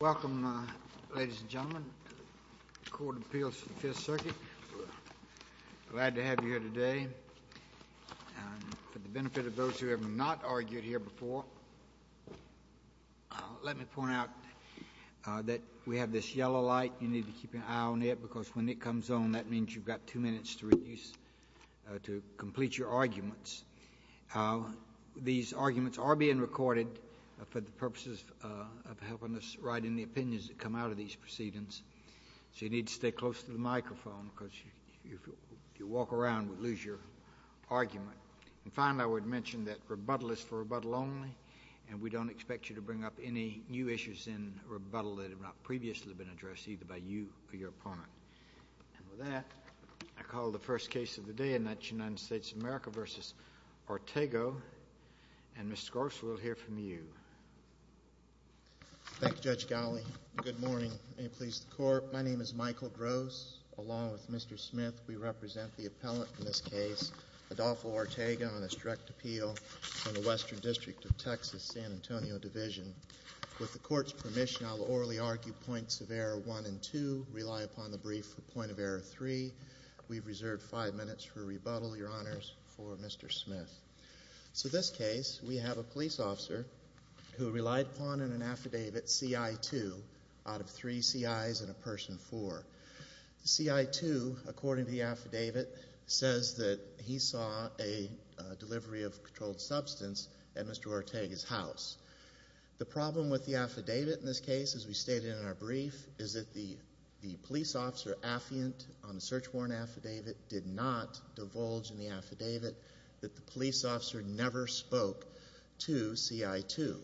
Welcome, ladies and gentlemen, to the Court of Appeals for the Fifth Circuit. Glad to have you here today. For the benefit of those who have not argued here before, let me point out that we have this yellow light. You need to keep an eye on it because when it comes on, that means you've got two minutes to complete your arguments. These arguments are being recorded for the purposes of helping us write in the opinions that come out of these proceedings. So you need to stay close to the microphone because if you walk around, we'll lose your argument. And finally, I would mention that rebuttal is for rebuttal only, and we don't expect you to bring up any new issues in rebuttal that have not previously been addressed either by you or your opponent. And with that, I call the first case of the day, and that's United States of America v. Ortega. And, Mr. Gross, we'll hear from you. Thank you, Judge Gowley. Good morning. May it please the Court. My name is Michael Gross. Along with Mr. Smith, we represent the appellant in this case, Adolfo Ortega, on his direct appeal from the Western District of Texas, San Antonio Division. With the Court's permission, I will orally argue points of error one and two, rely upon the brief for point of error three. We've reserved five minutes for rebuttal, Your Honors, for Mr. Smith. So this case, we have a police officer who relied upon in an affidavit CI-2 out of three CIs and a person four. The CI-2, according to the affidavit, says that he saw a delivery of controlled substance at Mr. Ortega's house. The problem with the affidavit in this case, as we stated in our brief, is that the police officer affiant on the search warrant affidavit did not divulge in the affidavit that the police officer never spoke to CI-2.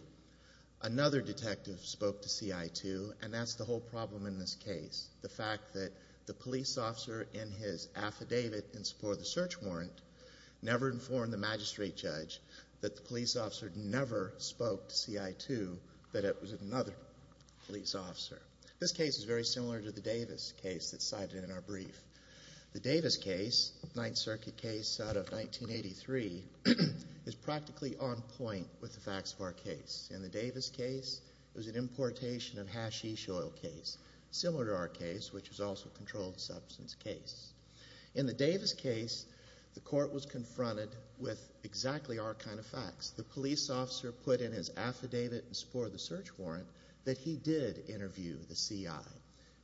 Another detective spoke to CI-2, and that's the whole problem in this case, the fact that the police officer in his affidavit in support of the search warrant never informed the magistrate judge that the police officer never spoke to CI-2, that it was another police officer. This case is very similar to the Davis case that's cited in our brief. The Davis case, Ninth Circuit case out of 1983, is practically on point with the facts of our case. In the Davis case, it was an importation of hashish oil case, similar to our case, which is also a controlled substance case. In the Davis case, the court was confronted with exactly our kind of facts. The police officer put in his affidavit in support of the search warrant that he did interview the CI,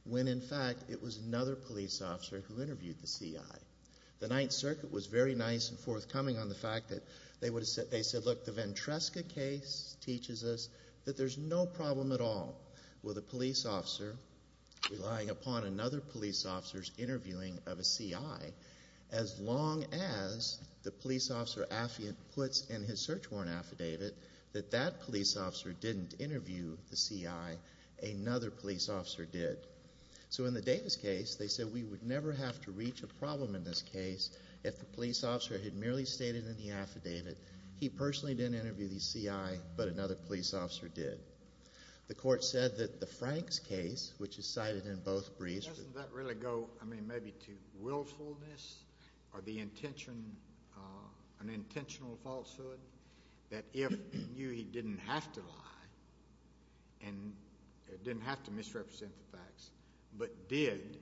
when, in fact, it was another police officer who interviewed the CI. The Ninth Circuit was very nice and forthcoming on the fact that they said, look, the Ventresca case teaches us that there's no problem at all with a police officer relying upon another police officer's interview of a CI, as long as the police officer affidavit puts in his search warrant affidavit that that police officer didn't interview the CI, another police officer did. So in the Davis case, they said we would never have to reach a problem in this case if the police officer had merely stated in the affidavit he personally didn't interview the CI, but another police officer did. The court said that the Franks case, which is cited in both briefs. Doesn't that really go, I mean, maybe to willfulness or the intention, an intentional falsehood, that if he knew he didn't have to lie and didn't have to misrepresent the facts but did,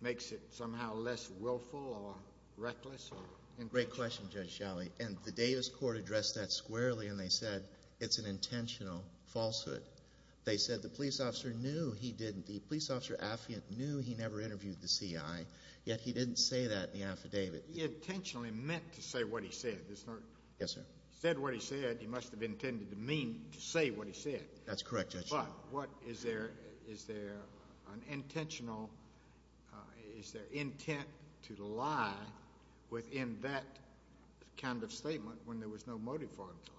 makes it somehow less willful or reckless? Great question, Judge Shelley. And the Davis court addressed that squarely, and they said it's an intentional falsehood. They said the police officer knew he didn't, the police officer affidavit knew he never interviewed the CI, yet he didn't say that in the affidavit. He intentionally meant to say what he said. Yes, sir. He said what he said. He must have intended to mean to say what he said. That's correct, Judge Shelley. But is there an intentional, is there intent to lie within that kind of statement when there was no motive for him to lie?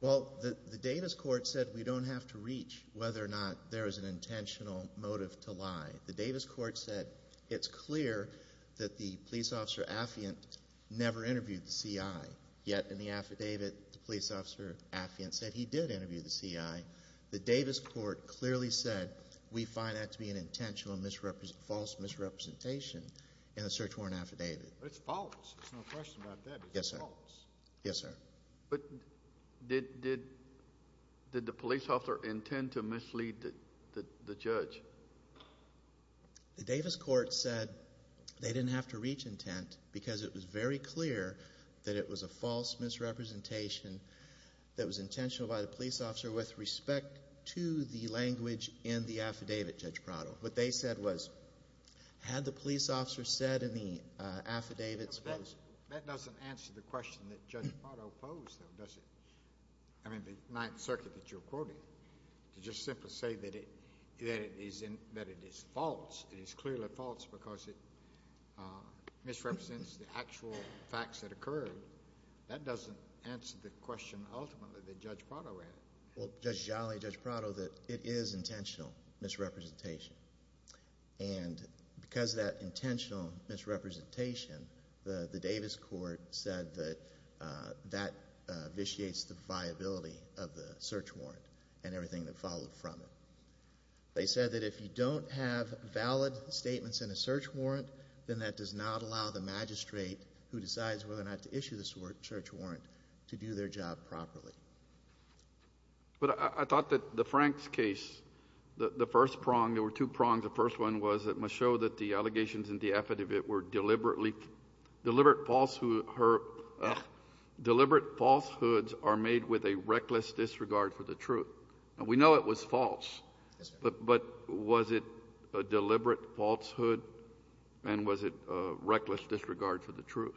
Well, the Davis court said we don't have to reach whether or not there is an intentional motive to lie. The Davis court said it's clear that the police officer affiant never interviewed the CI, yet in the affidavit the police officer affiant said he did interview the CI. The Davis court clearly said we find that to be an intentional false misrepresentation in the search warrant affidavit. But it's false. There's no question about that. It's false. Yes, sir. Yes. But did the police officer intend to mislead the judge? The Davis court said they didn't have to reach intent because it was very clear that it was a false misrepresentation that was intentional by the police officer with respect to the language in the affidavit, Judge Prado. What they said was had the police officer said in the affidavit. That doesn't answer the question that Judge Prado posed though, does it? I mean, the Ninth Circuit that you're quoting, to just simply say that it is false, it is clearly false because it misrepresents the actual facts that occurred, that doesn't answer the question ultimately that Judge Prado had. Well, Judge Gialli, Judge Prado, that it is intentional misrepresentation. And because of that intentional misrepresentation, the Davis court said that that vitiates the viability of the search warrant and everything that followed from it. They said that if you don't have valid statements in a search warrant, then that does not allow the magistrate who decides whether or not to issue the search warrant to do their job properly. But I thought that the Franks case, the first prong, there were two prongs. The first one was it must show that the allegations in the affidavit were deliberately deliberate falsehoods are made with a reckless disregard for the truth. We know it was false. But was it a deliberate falsehood and was it a reckless disregard for the truth?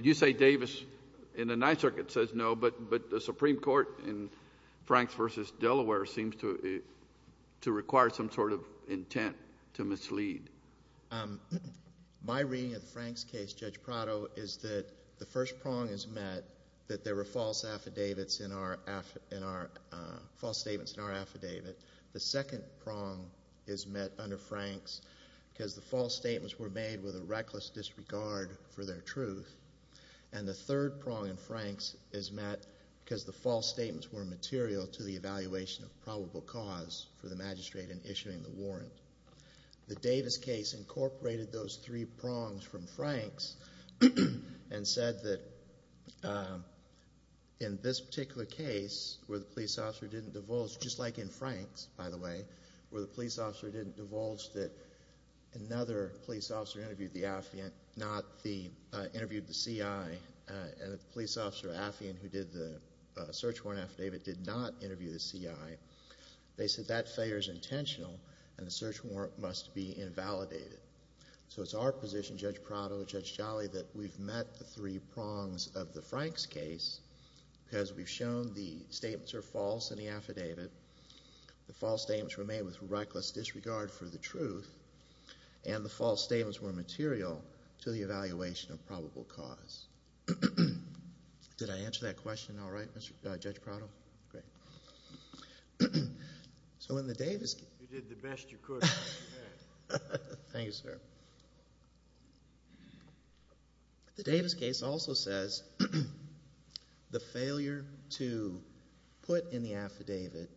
You say Davis in the Ninth Circuit says no, but the Supreme Court in Franks v. Delaware seems to require some sort of intent to mislead. My reading of the Franks case, Judge Prado, is that the first prong is met that there were false affidavits in our affidavit. The second prong is met under Franks because the false statements were made with a reckless disregard for their truth. And the third prong in Franks is met because the false statements were material to the evaluation of probable cause for the magistrate in issuing the warrant. The Davis case incorporated those three prongs from Franks and said that in this particular case, where the police officer didn't divulge, just like in Franks, by the way, where the police officer didn't divulge that another police officer interviewed the affidavit, not interviewed the C.I., and the police officer affidavit who did the search warrant affidavit did not interview the C.I., they said that failure is intentional and the search warrant must be invalidated. So it's our position, Judge Prado, Judge Jolly, that we've met the three prongs of the Franks case because we've shown the statements are false in the affidavit, the false statements were made with reckless disregard for the truth, and the false statements were material to the evaluation of probable cause. Did I answer that question all right, Judge Prado? Great. So in the Davis case... You did the best you could. Thank you, sir. The Davis case also says the failure to put in the affidavit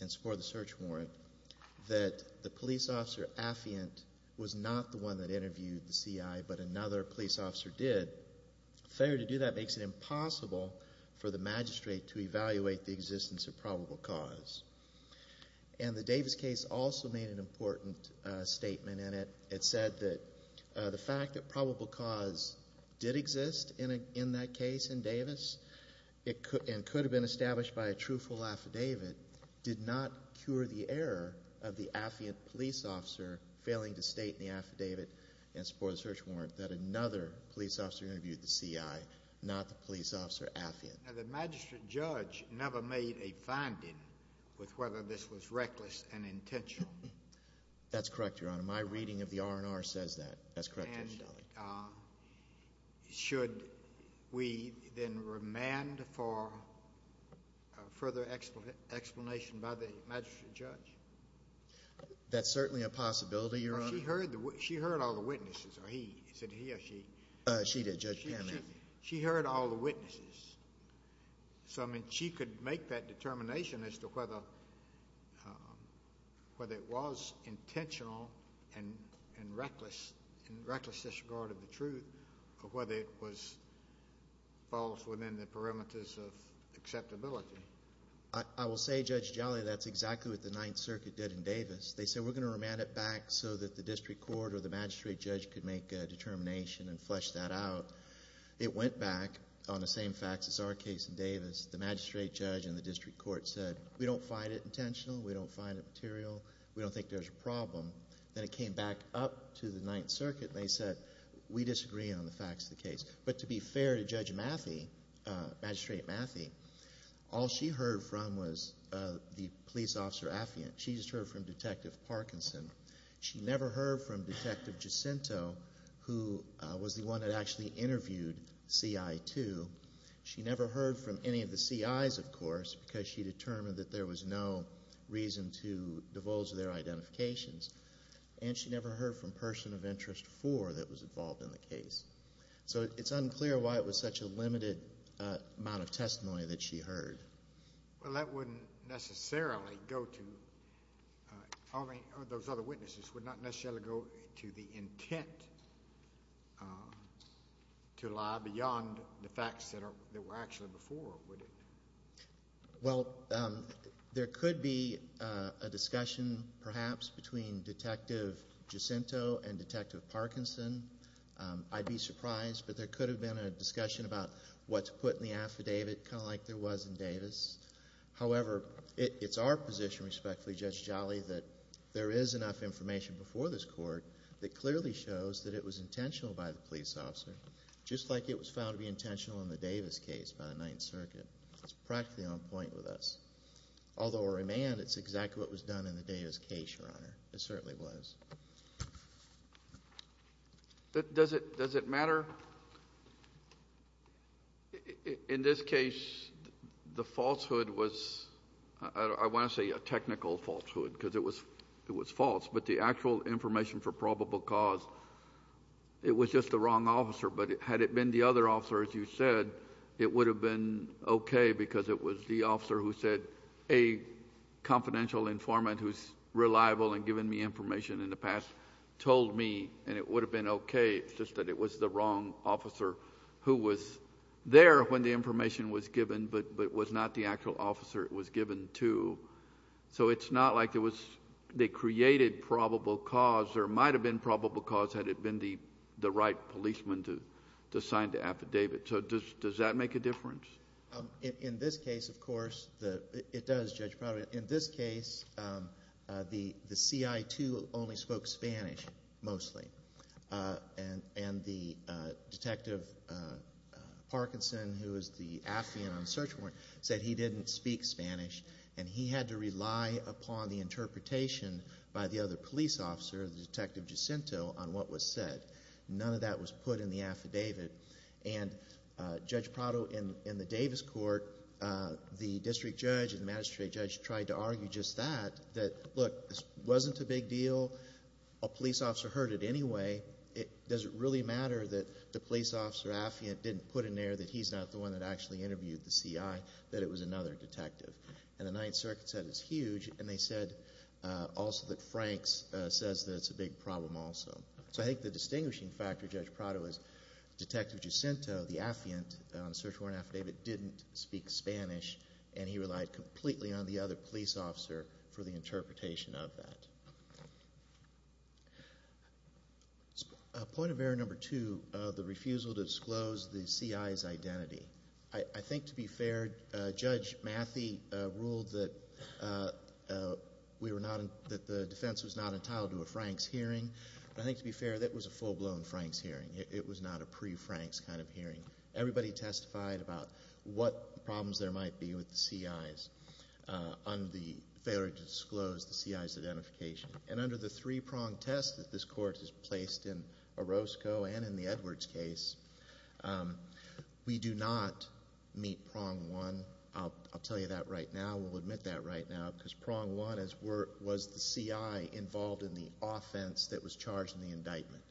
and score the search warrant that the police officer affiant was not the one that interviewed the C.I., but another police officer did, failure to do that makes it impossible for the magistrate to evaluate the existence of probable cause. And the Davis case also made an important statement, and it said that the fact that probable cause did exist in that case in Davis and could have been established by a truthful affidavit did not cure the error of the affiant police officer failing to state in the affidavit and score the search warrant that another police officer interviewed the C.I., not the police officer affiant. Now, the magistrate judge never made a finding with whether this was reckless and intentional. That's correct, Your Honor. My reading of the R&R says that. That's correct, Judge Daly. And should we then remand for further explanation by the magistrate judge? That's certainly a possibility, Your Honor. She heard all the witnesses. Is it he or she? She did, Judge Pam. She heard all the witnesses. So, I mean, she could make that determination as to whether it was intentional and reckless disregard of the truth or whether it was false within the perimeters of acceptability. I will say, Judge Daly, that's exactly what the Ninth Circuit did in Davis. They said we're going to remand it back so that the district court or the magistrate judge could make a determination and flesh that out. It went back on the same facts as our case in Davis. The magistrate judge and the district court said we don't find it intentional. We don't find it material. We don't think there's a problem. Then it came back up to the Ninth Circuit, and they said we disagree on the facts of the case. But to be fair to Judge Mathie, Magistrate Mathie, all she heard from was the police officer affiant. She just heard from Detective Parkinson. She never heard from Detective Jacinto, who was the one that actually interviewed CI2. She never heard from any of the CIs, of course, because she determined that there was no reason to divulge their identifications. And she never heard from Person of Interest 4 that was involved in the case. So it's unclear why it was such a limited amount of testimony that she heard. Well, that wouldn't necessarily go to those other witnesses. It would not necessarily go to the intent to lie beyond the facts that were actually before, would it? Well, there could be a discussion perhaps between Detective Jacinto and Detective Parkinson. I'd be surprised, but there could have been a discussion about what's put in the affidavit kind of like there was in Davis. However, it's our position, respectfully, Judge Jolly, that there is enough information before this court that clearly shows that it was intentional by the police officer, just like it was found to be intentional in the Davis case by the Ninth Circuit. It's practically on point with us. Although we're remanded, it's exactly what was done in the Davis case, Your Honor. It certainly was. Does it matter? In this case, the falsehood was, I want to say a technical falsehood because it was false, but the actual information for probable cause, it was just the wrong officer. But had it been the other officer, as you said, it would have been okay because it was the officer who said a confidential informant who's reliable and given me information in the past told me, and it would have been okay. It's just that it was the wrong officer who was there when the information was given but was not the actual officer it was given to. So it's not like they created probable cause. There might have been probable cause had it been the right policeman to sign the affidavit. So does that make a difference? In this case, of course, it does, Judge Prado. In this case, the CI2 only spoke Spanish, mostly, and the Detective Parkinson, who is the affiant on search warrant, said he didn't speak Spanish, and he had to rely upon the interpretation by the other police officer, Detective Jacinto, on what was said. None of that was put in the affidavit. And Judge Prado, in the Davis court, the district judge and magistrate judge tried to argue just that, that, look, this wasn't a big deal. A police officer heard it anyway. Does it really matter that the police officer affiant didn't put in there that he's not the one that actually interviewed the CI, that it was another detective? And the Ninth Circuit said it's huge, and they said also that Franks says that it's a big problem also. So I think the distinguishing factor, Judge Prado, is Detective Jacinto, the affiant on the search warrant affidavit, didn't speak Spanish, and he relied completely on the other police officer for the interpretation of that. Point of error number two, the refusal to disclose the CI's identity. I think, to be fair, Judge Mathie ruled that the defense was not entitled to a Franks hearing. But I think, to be fair, that was a full-blown Franks hearing. It was not a pre-Franks kind of hearing. Everybody testified about what problems there might be with the CI's on the failure to disclose the CI's identification. And under the three-prong test that this court has placed in Orozco and in the Edwards case, we do not meet prong one. I'll tell you that right now. We'll admit that right now, because prong one was the CI involved in the offense that was charged in the indictment.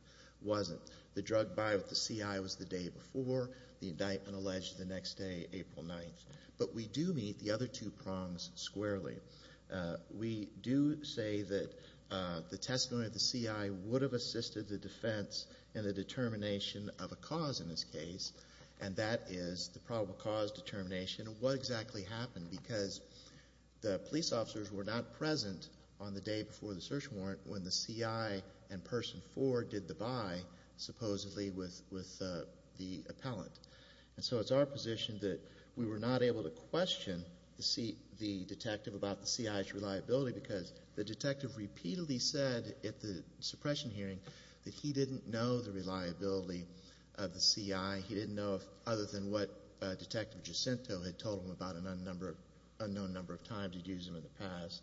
It wasn't. The drug buyout with the CI was the day before. The indictment alleged the next day, April 9th. But we do meet the other two prongs squarely. We do say that the testimony of the CI would have assisted the defense in the determination of a cause in this case, and that is the probable cause determination. What exactly happened? Because the police officers were not present on the day before the search warrant when the CI and Person 4 did the buy, supposedly, with the appellant. And so it's our position that we were not able to question the detective about the CI's reliability because the detective repeatedly said at the suppression hearing that he didn't know the reliability of the CI. He didn't know other than what Detective Jacinto had told him about an unknown number of times he'd used them in the past.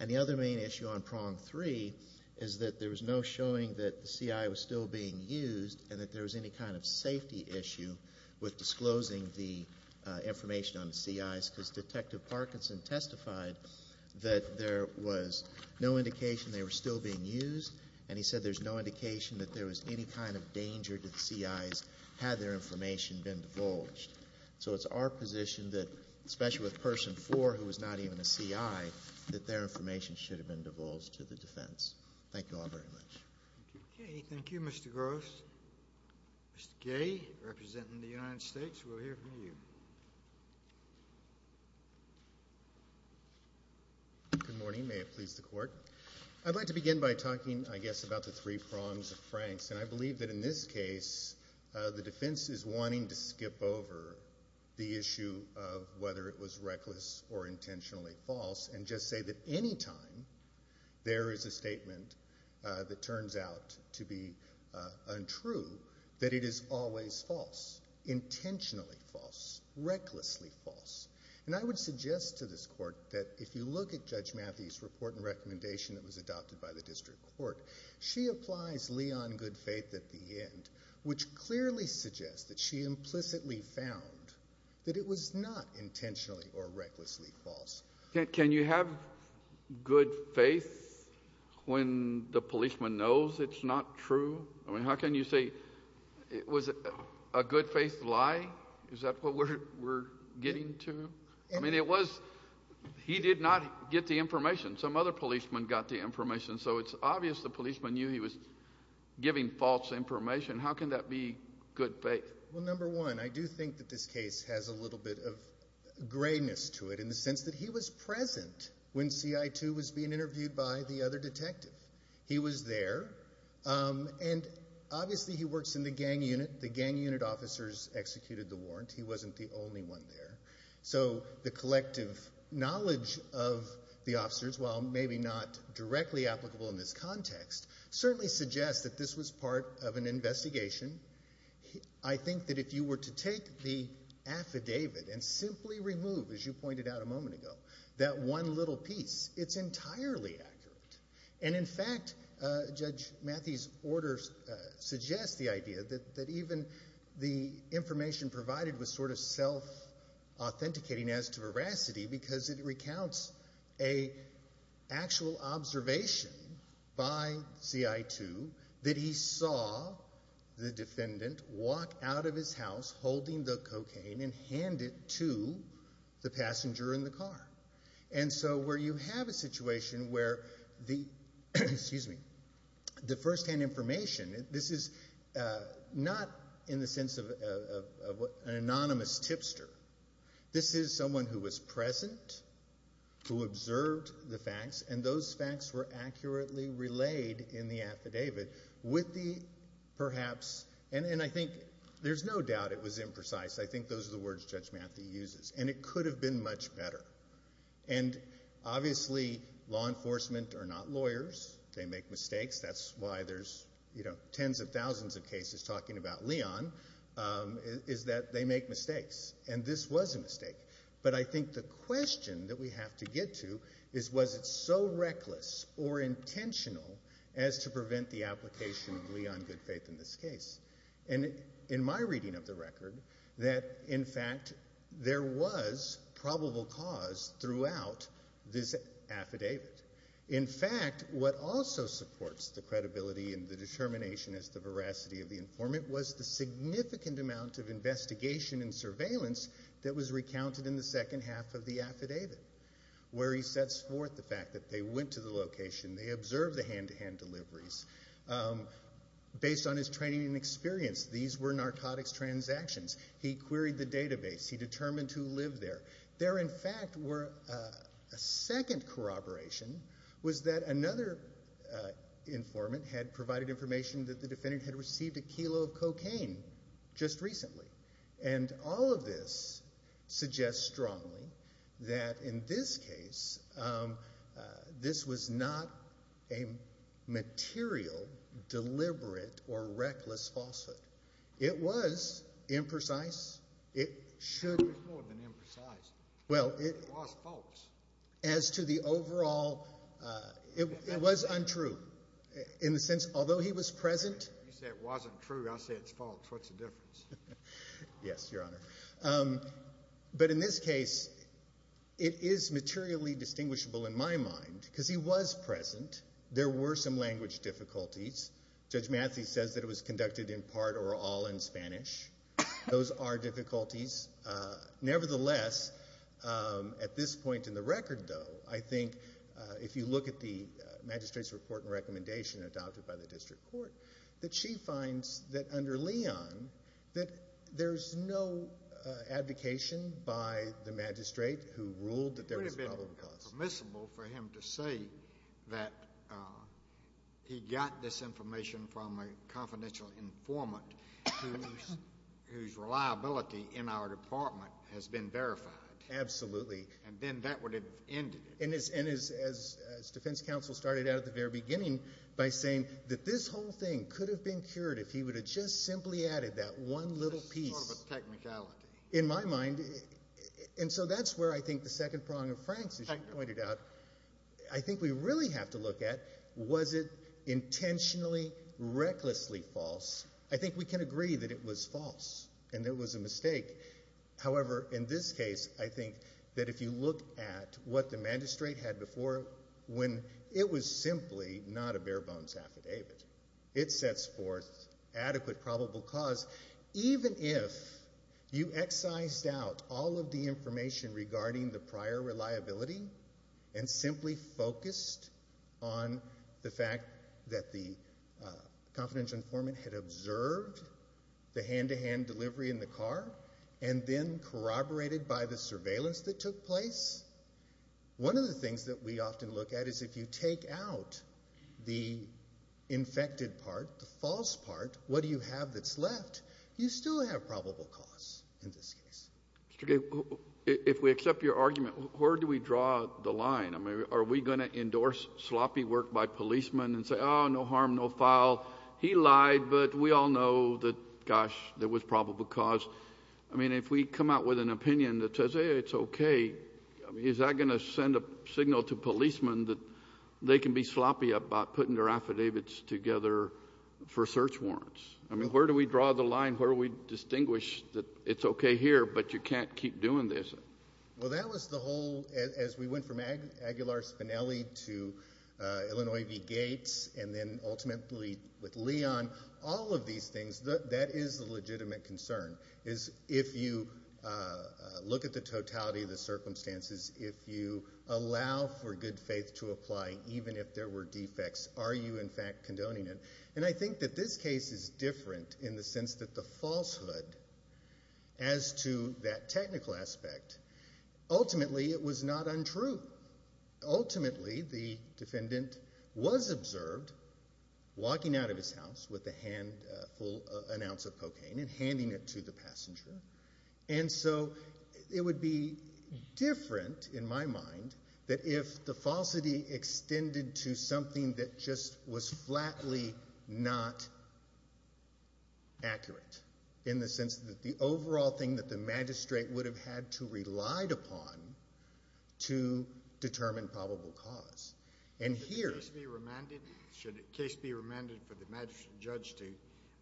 And the other main issue on prong three is that there was no showing that the CI was still being used and that there was any kind of safety issue with disclosing the information on the CIs because Detective Parkinson testified that there was no indication they were still being used, and he said there's no indication that there was any kind of danger to the CIs had their information been divulged. So it's our position that, especially with Person 4, who was not even a CI, that their information should have been divulged to the defense. Thank you all very much. Okay. Thank you, Mr. Gross. Mr. Gay, representing the United States, we'll hear from you. Good morning. May it please the Court. I'd like to begin by talking, I guess, about the three prongs of Frank's, and I believe that in this case the defense is wanting to skip over the issue of whether it was reckless or intentionally false and just say that any time there is a statement that turns out to be untrue that it is always false, intentionally false, recklessly false. And I would suggest to this Court that if you look at Judge Matthey's report and recommendation that was adopted by the district court, she applies Leon good faith at the end, which clearly suggests that she implicitly found that it was not intentionally or recklessly false. Can you have good faith when the policeman knows it's not true? I mean, how can you say it was a good faith lie? Is that what we're getting to? I mean, it was he did not get the information. Some other policeman got the information. So it's obvious the policeman knew he was giving false information. How can that be good faith? Well, number one, I do think that this case has a little bit of grayness to it in the sense that he was present when CI2 was being interviewed by the other detective. He was there, and obviously he works in the gang unit. The gang unit officers executed the warrant. He wasn't the only one there. So the collective knowledge of the officers, while maybe not directly applicable in this context, certainly suggests that this was part of an investigation. I think that if you were to take the affidavit and simply remove, as you pointed out a moment ago, that one little piece, it's entirely accurate. And in fact, Judge Matthey's order suggests the idea that even the information provided was sort of self-authenticating as to veracity because it recounts an actual observation by CI2 that he saw the defendant walk out of his house holding the cocaine and hand it to the passenger in the car. And so where you have a situation where the firsthand information, this is not in the sense of an anonymous tipster. This is someone who was present, who observed the facts, and those facts were accurately relayed in the affidavit with the perhaps, and I think there's no doubt it was imprecise. I think those are the words Judge Matthey uses. And it could have been much better. And obviously law enforcement are not lawyers. They make mistakes. That's why there's tens of thousands of cases talking about Leon, is that they make mistakes. And this was a mistake. But I think the question that we have to get to is was it so reckless or intentional as to prevent the application of Leon Goodfaith in this case? And in my reading of the record, that in fact there was probable cause throughout this affidavit. In fact, what also supports the credibility and the determination as to veracity of the informant was the significant amount of investigation and surveillance that was recounted in the second half of the affidavit where he sets forth the fact that they went to the location, they observed the hand-to-hand deliveries based on his training and experience. These were narcotics transactions. He queried the database. He determined who lived there. There in fact were a second corroboration was that another informant had provided information that the defendant had received a kilo of cocaine just recently. And all of this suggests strongly that in this case, this was not a material, deliberate, or reckless falsehood. It was imprecise. It was more than imprecise. It was false. As to the overall, it was untrue in the sense although he was present. You say it wasn't true, I say it's false. What's the difference? Yes, Your Honor. But in this case, it is materially distinguishable in my mind because he was present. There were some language difficulties. Judge Matthews says that it was conducted in part or all in Spanish. Those are difficulties. Nevertheless, at this point in the record though, I think if you look at the magistrate's report and recommendation adopted by the district court, that she finds that under Leon, that there's no advocation by the magistrate who ruled that there was a probable cause. It would have been permissible for him to say that he got this information from a confidential informant whose reliability in our department has been verified. Absolutely. And then that would have ended it. As defense counsel started out at the very beginning by saying that this whole thing could have been cured if he would have just simply added that one little piece. Sort of a technicality. In my mind. And so that's where I think the second prong of Frank's, as you pointed out, I think we really have to look at was it intentionally, recklessly false. I think we can agree that it was false and that it was a mistake. However, in this case, I think that if you look at what the magistrate had before, when it was simply not a bare bones affidavit, it sets forth adequate probable cause. Even if you excised out all of the information regarding the prior reliability and simply focused on the fact that the confidential informant had observed the hand-to-hand delivery in the car and then corroborated by the surveillance that took place, one of the things that we often look at is if you take out the infected part, the false part, what do you have that's left? You still have probable cause in this case. If we accept your argument, where do we draw the line? Are we going to endorse sloppy work by policemen and say, oh, no harm, no foul. He lied, but we all know that, gosh, there was probable cause. I mean, if we come out with an opinion that says, hey, it's okay, is that going to send a signal to policemen that they can be sloppy about putting their affidavits together for search warrants? I mean, where do we draw the line? Where do we distinguish that it's okay here, but you can't keep doing this? Well, that was the whole, as we went from Aguilar Spinelli to Illinois v. Gates and then ultimately with Leon, all of these things, that is the legitimate concern, is if you look at the totality of the circumstances, if you allow for good faith to apply, even if there were defects, are you in fact condoning it? And I think that this case is different in the sense that the falsehood as to that technical aspect, ultimately it was not untrue. Ultimately, the defendant was observed walking out of his house with a full ounce of cocaine and handing it to the passenger. And so it would be different in my mind that if the falsity extended to something that just was flatly not accurate in the sense that the overall thing that the magistrate would have had to relied upon to determine probable cause. Should the case be remanded for the magistrate judge to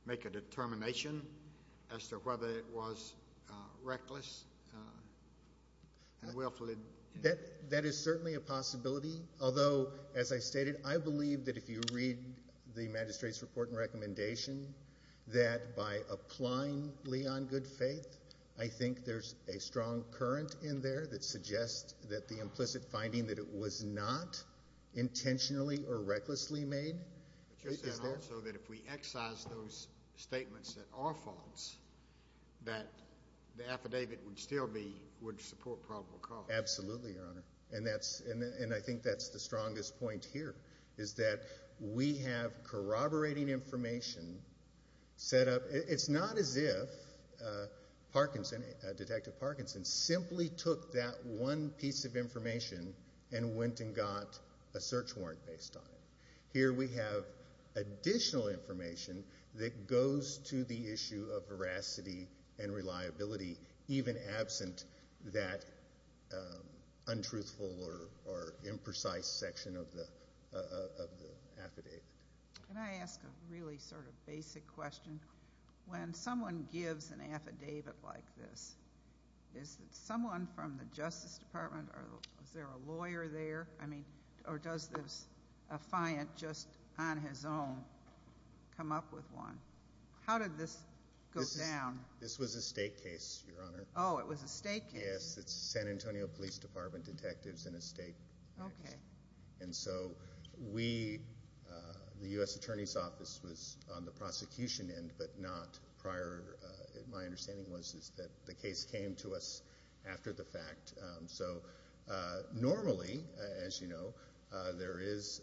make a determination as to whether it was reckless and willfully? That is certainly a possibility. Although, as I stated, I believe that if you read the magistrate's report and recommendation, that by applying Lee on good faith, I think there's a strong current in there that suggests that the implicit finding that it was not intentionally or recklessly made. But you said also that if we excise those statements that are false, that the affidavit would still support probable cause. Absolutely, Your Honor. And I think that's the strongest point here, is that we have corroborating information set up. It's not as if Detective Parkinson simply took that one piece of information and went and got a search warrant based on it. Here we have additional information that goes to the issue of veracity and reliability, even absent that untruthful or imprecise section of the affidavit. Can I ask a really sort of basic question? When someone gives an affidavit like this, is it someone from the Justice Department? Is there a lawyer there? I mean, or does this affiant just on his own come up with one? How did this go down? This was a state case, Your Honor. Oh, it was a state case? Yes, it's San Antonio Police Department detectives in a state case. Okay. And so we, the U.S. Attorney's Office, was on the prosecution end but not prior. My understanding was that the case came to us after the fact. So normally, as you know, there is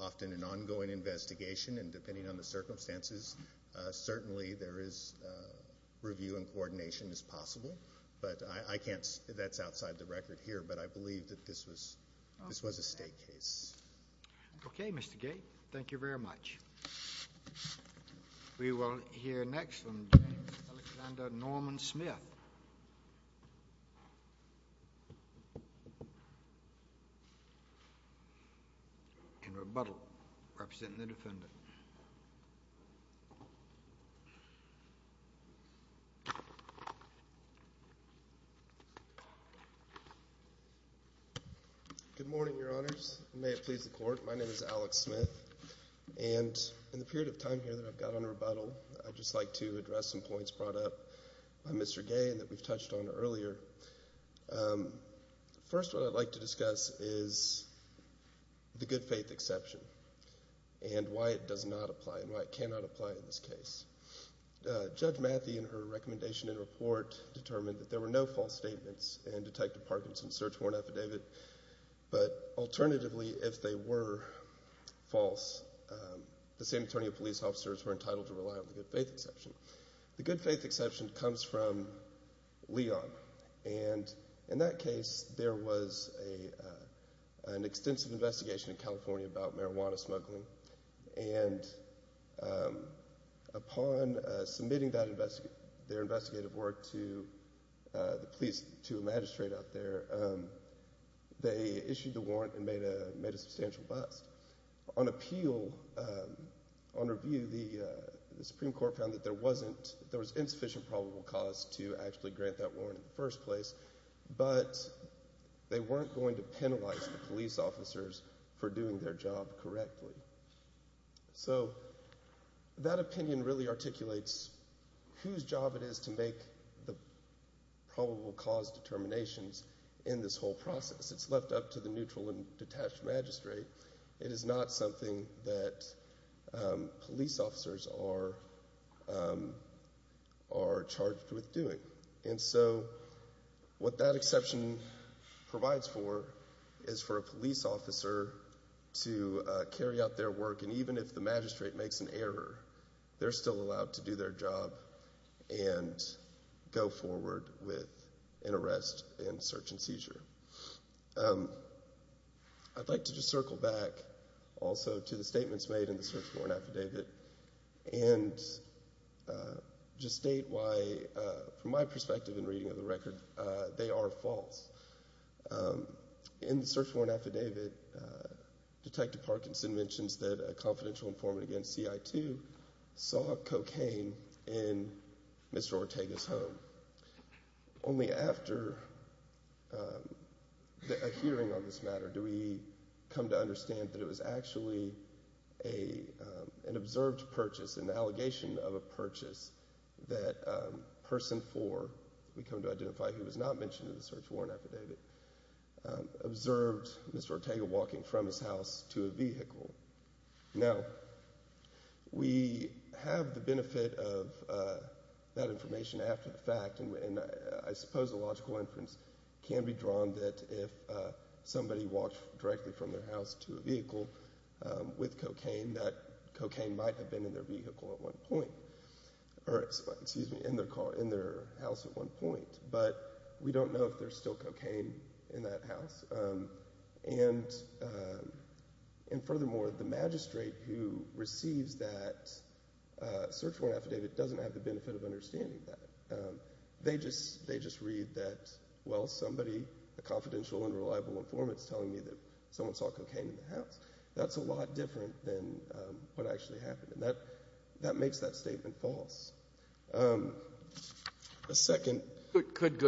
often an ongoing investigation, and depending on the circumstances, certainly there is review and coordination as possible. But I can't say that's outside the record here, but I believe that this was a state case. Okay, Mr. Gate. Thank you very much. We will hear next from James Alexander Norman Smith. And rebuttal, representing the defendant. Good morning, Your Honors. May it please the Court. My name is Alex Smith. And in the period of time here that I've got on rebuttal, I'd just like to address some points brought up by Mr. Gay that we've touched on earlier. First, what I'd like to discuss is the good faith exception and why it does not apply and why it cannot apply in this case. Judge Matthey, in her recommendation and report, determined that there were no false statements in Detective Parkinson's search warrant affidavit. But alternatively, if they were false, the same attorney and police officers were entitled to rely on the good faith exception. The good faith exception comes from Leon. And in that case, there was an extensive investigation in California about marijuana smuggling. And upon submitting their investigative work to the police, to a magistrate out there, they issued the warrant and made a substantial bust. On appeal, on review, the Supreme Court found that there was insufficient probable cause to actually grant that warrant in the first place. But they weren't going to penalize the police officers for doing their job correctly. So that opinion really articulates whose job it is to make the probable cause determinations in this whole process. It's left up to the neutral and detached magistrate. It is not something that police officers are charged with doing. And so what that exception provides for is for a police officer to carry out their work. And even if the magistrate makes an error, they're still allowed to do their job and go forward with an arrest and search and seizure. I'd like to just circle back also to the statements made in the search warrant affidavit and just state why, from my perspective in reading of the record, they are false. In the search warrant affidavit, Detective Parkinson mentions that a confidential informant against CI2 saw cocaine in Mr. Ortega's home. Only after a hearing on this matter do we come to understand that it was actually an observed purchase and the allegation of a purchase that Person 4, we come to identify who was not mentioned in the search warrant affidavit, observed Mr. Ortega walking from his house to a vehicle. Now, we have the benefit of that information after the fact, and I suppose a logical inference can be drawn that if somebody walked directly from their house to a vehicle with cocaine, that cocaine might have been in their vehicle at one point, or excuse me, in their house at one point. But we don't know if there's still cocaine in that house. And furthermore, the magistrate who receives that search warrant affidavit doesn't have the benefit of understanding that. They just read that, well, somebody, a confidential and reliable informant is telling me that someone saw cocaine in the house. That's a lot different than what actually happened, and that makes that statement false. A second. Could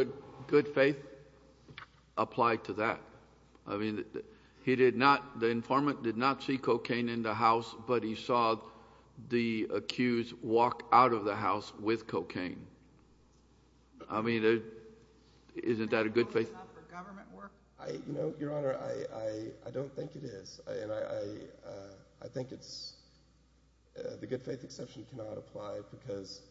good faith apply to that? I mean, he did not, the informant did not see cocaine in the house, but he saw the accused walk out of the house with cocaine. I mean, isn't that a good faith? I, you know, Your Honor, I don't think it is. And I think it's, the good faith exception cannot apply, because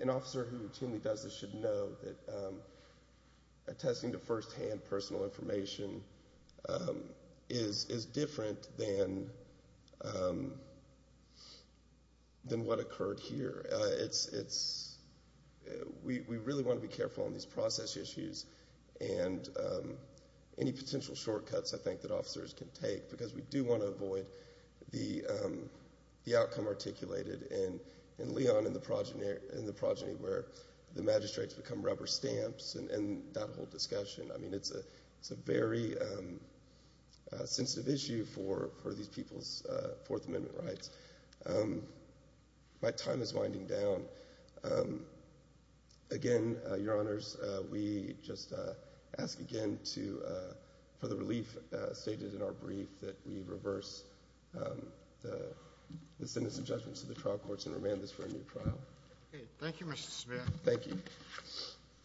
an officer who routinely does this should know that attesting to firsthand personal information is different than what occurred here. It's, we really want to be careful on these process issues and any potential shortcuts I think that officers can take, because we do want to avoid the outcome articulated in Leon and the progeny where the magistrates become rubber stamps and that whole discussion. I mean, it's a very sensitive issue for these people's Fourth Amendment rights. My time is winding down. Again, Your Honors, we just ask again for the relief stated in our brief that we reverse the sentence of judgment to the trial courts and remand this for a new trial. Thank you, Mr. Smear. Thank you.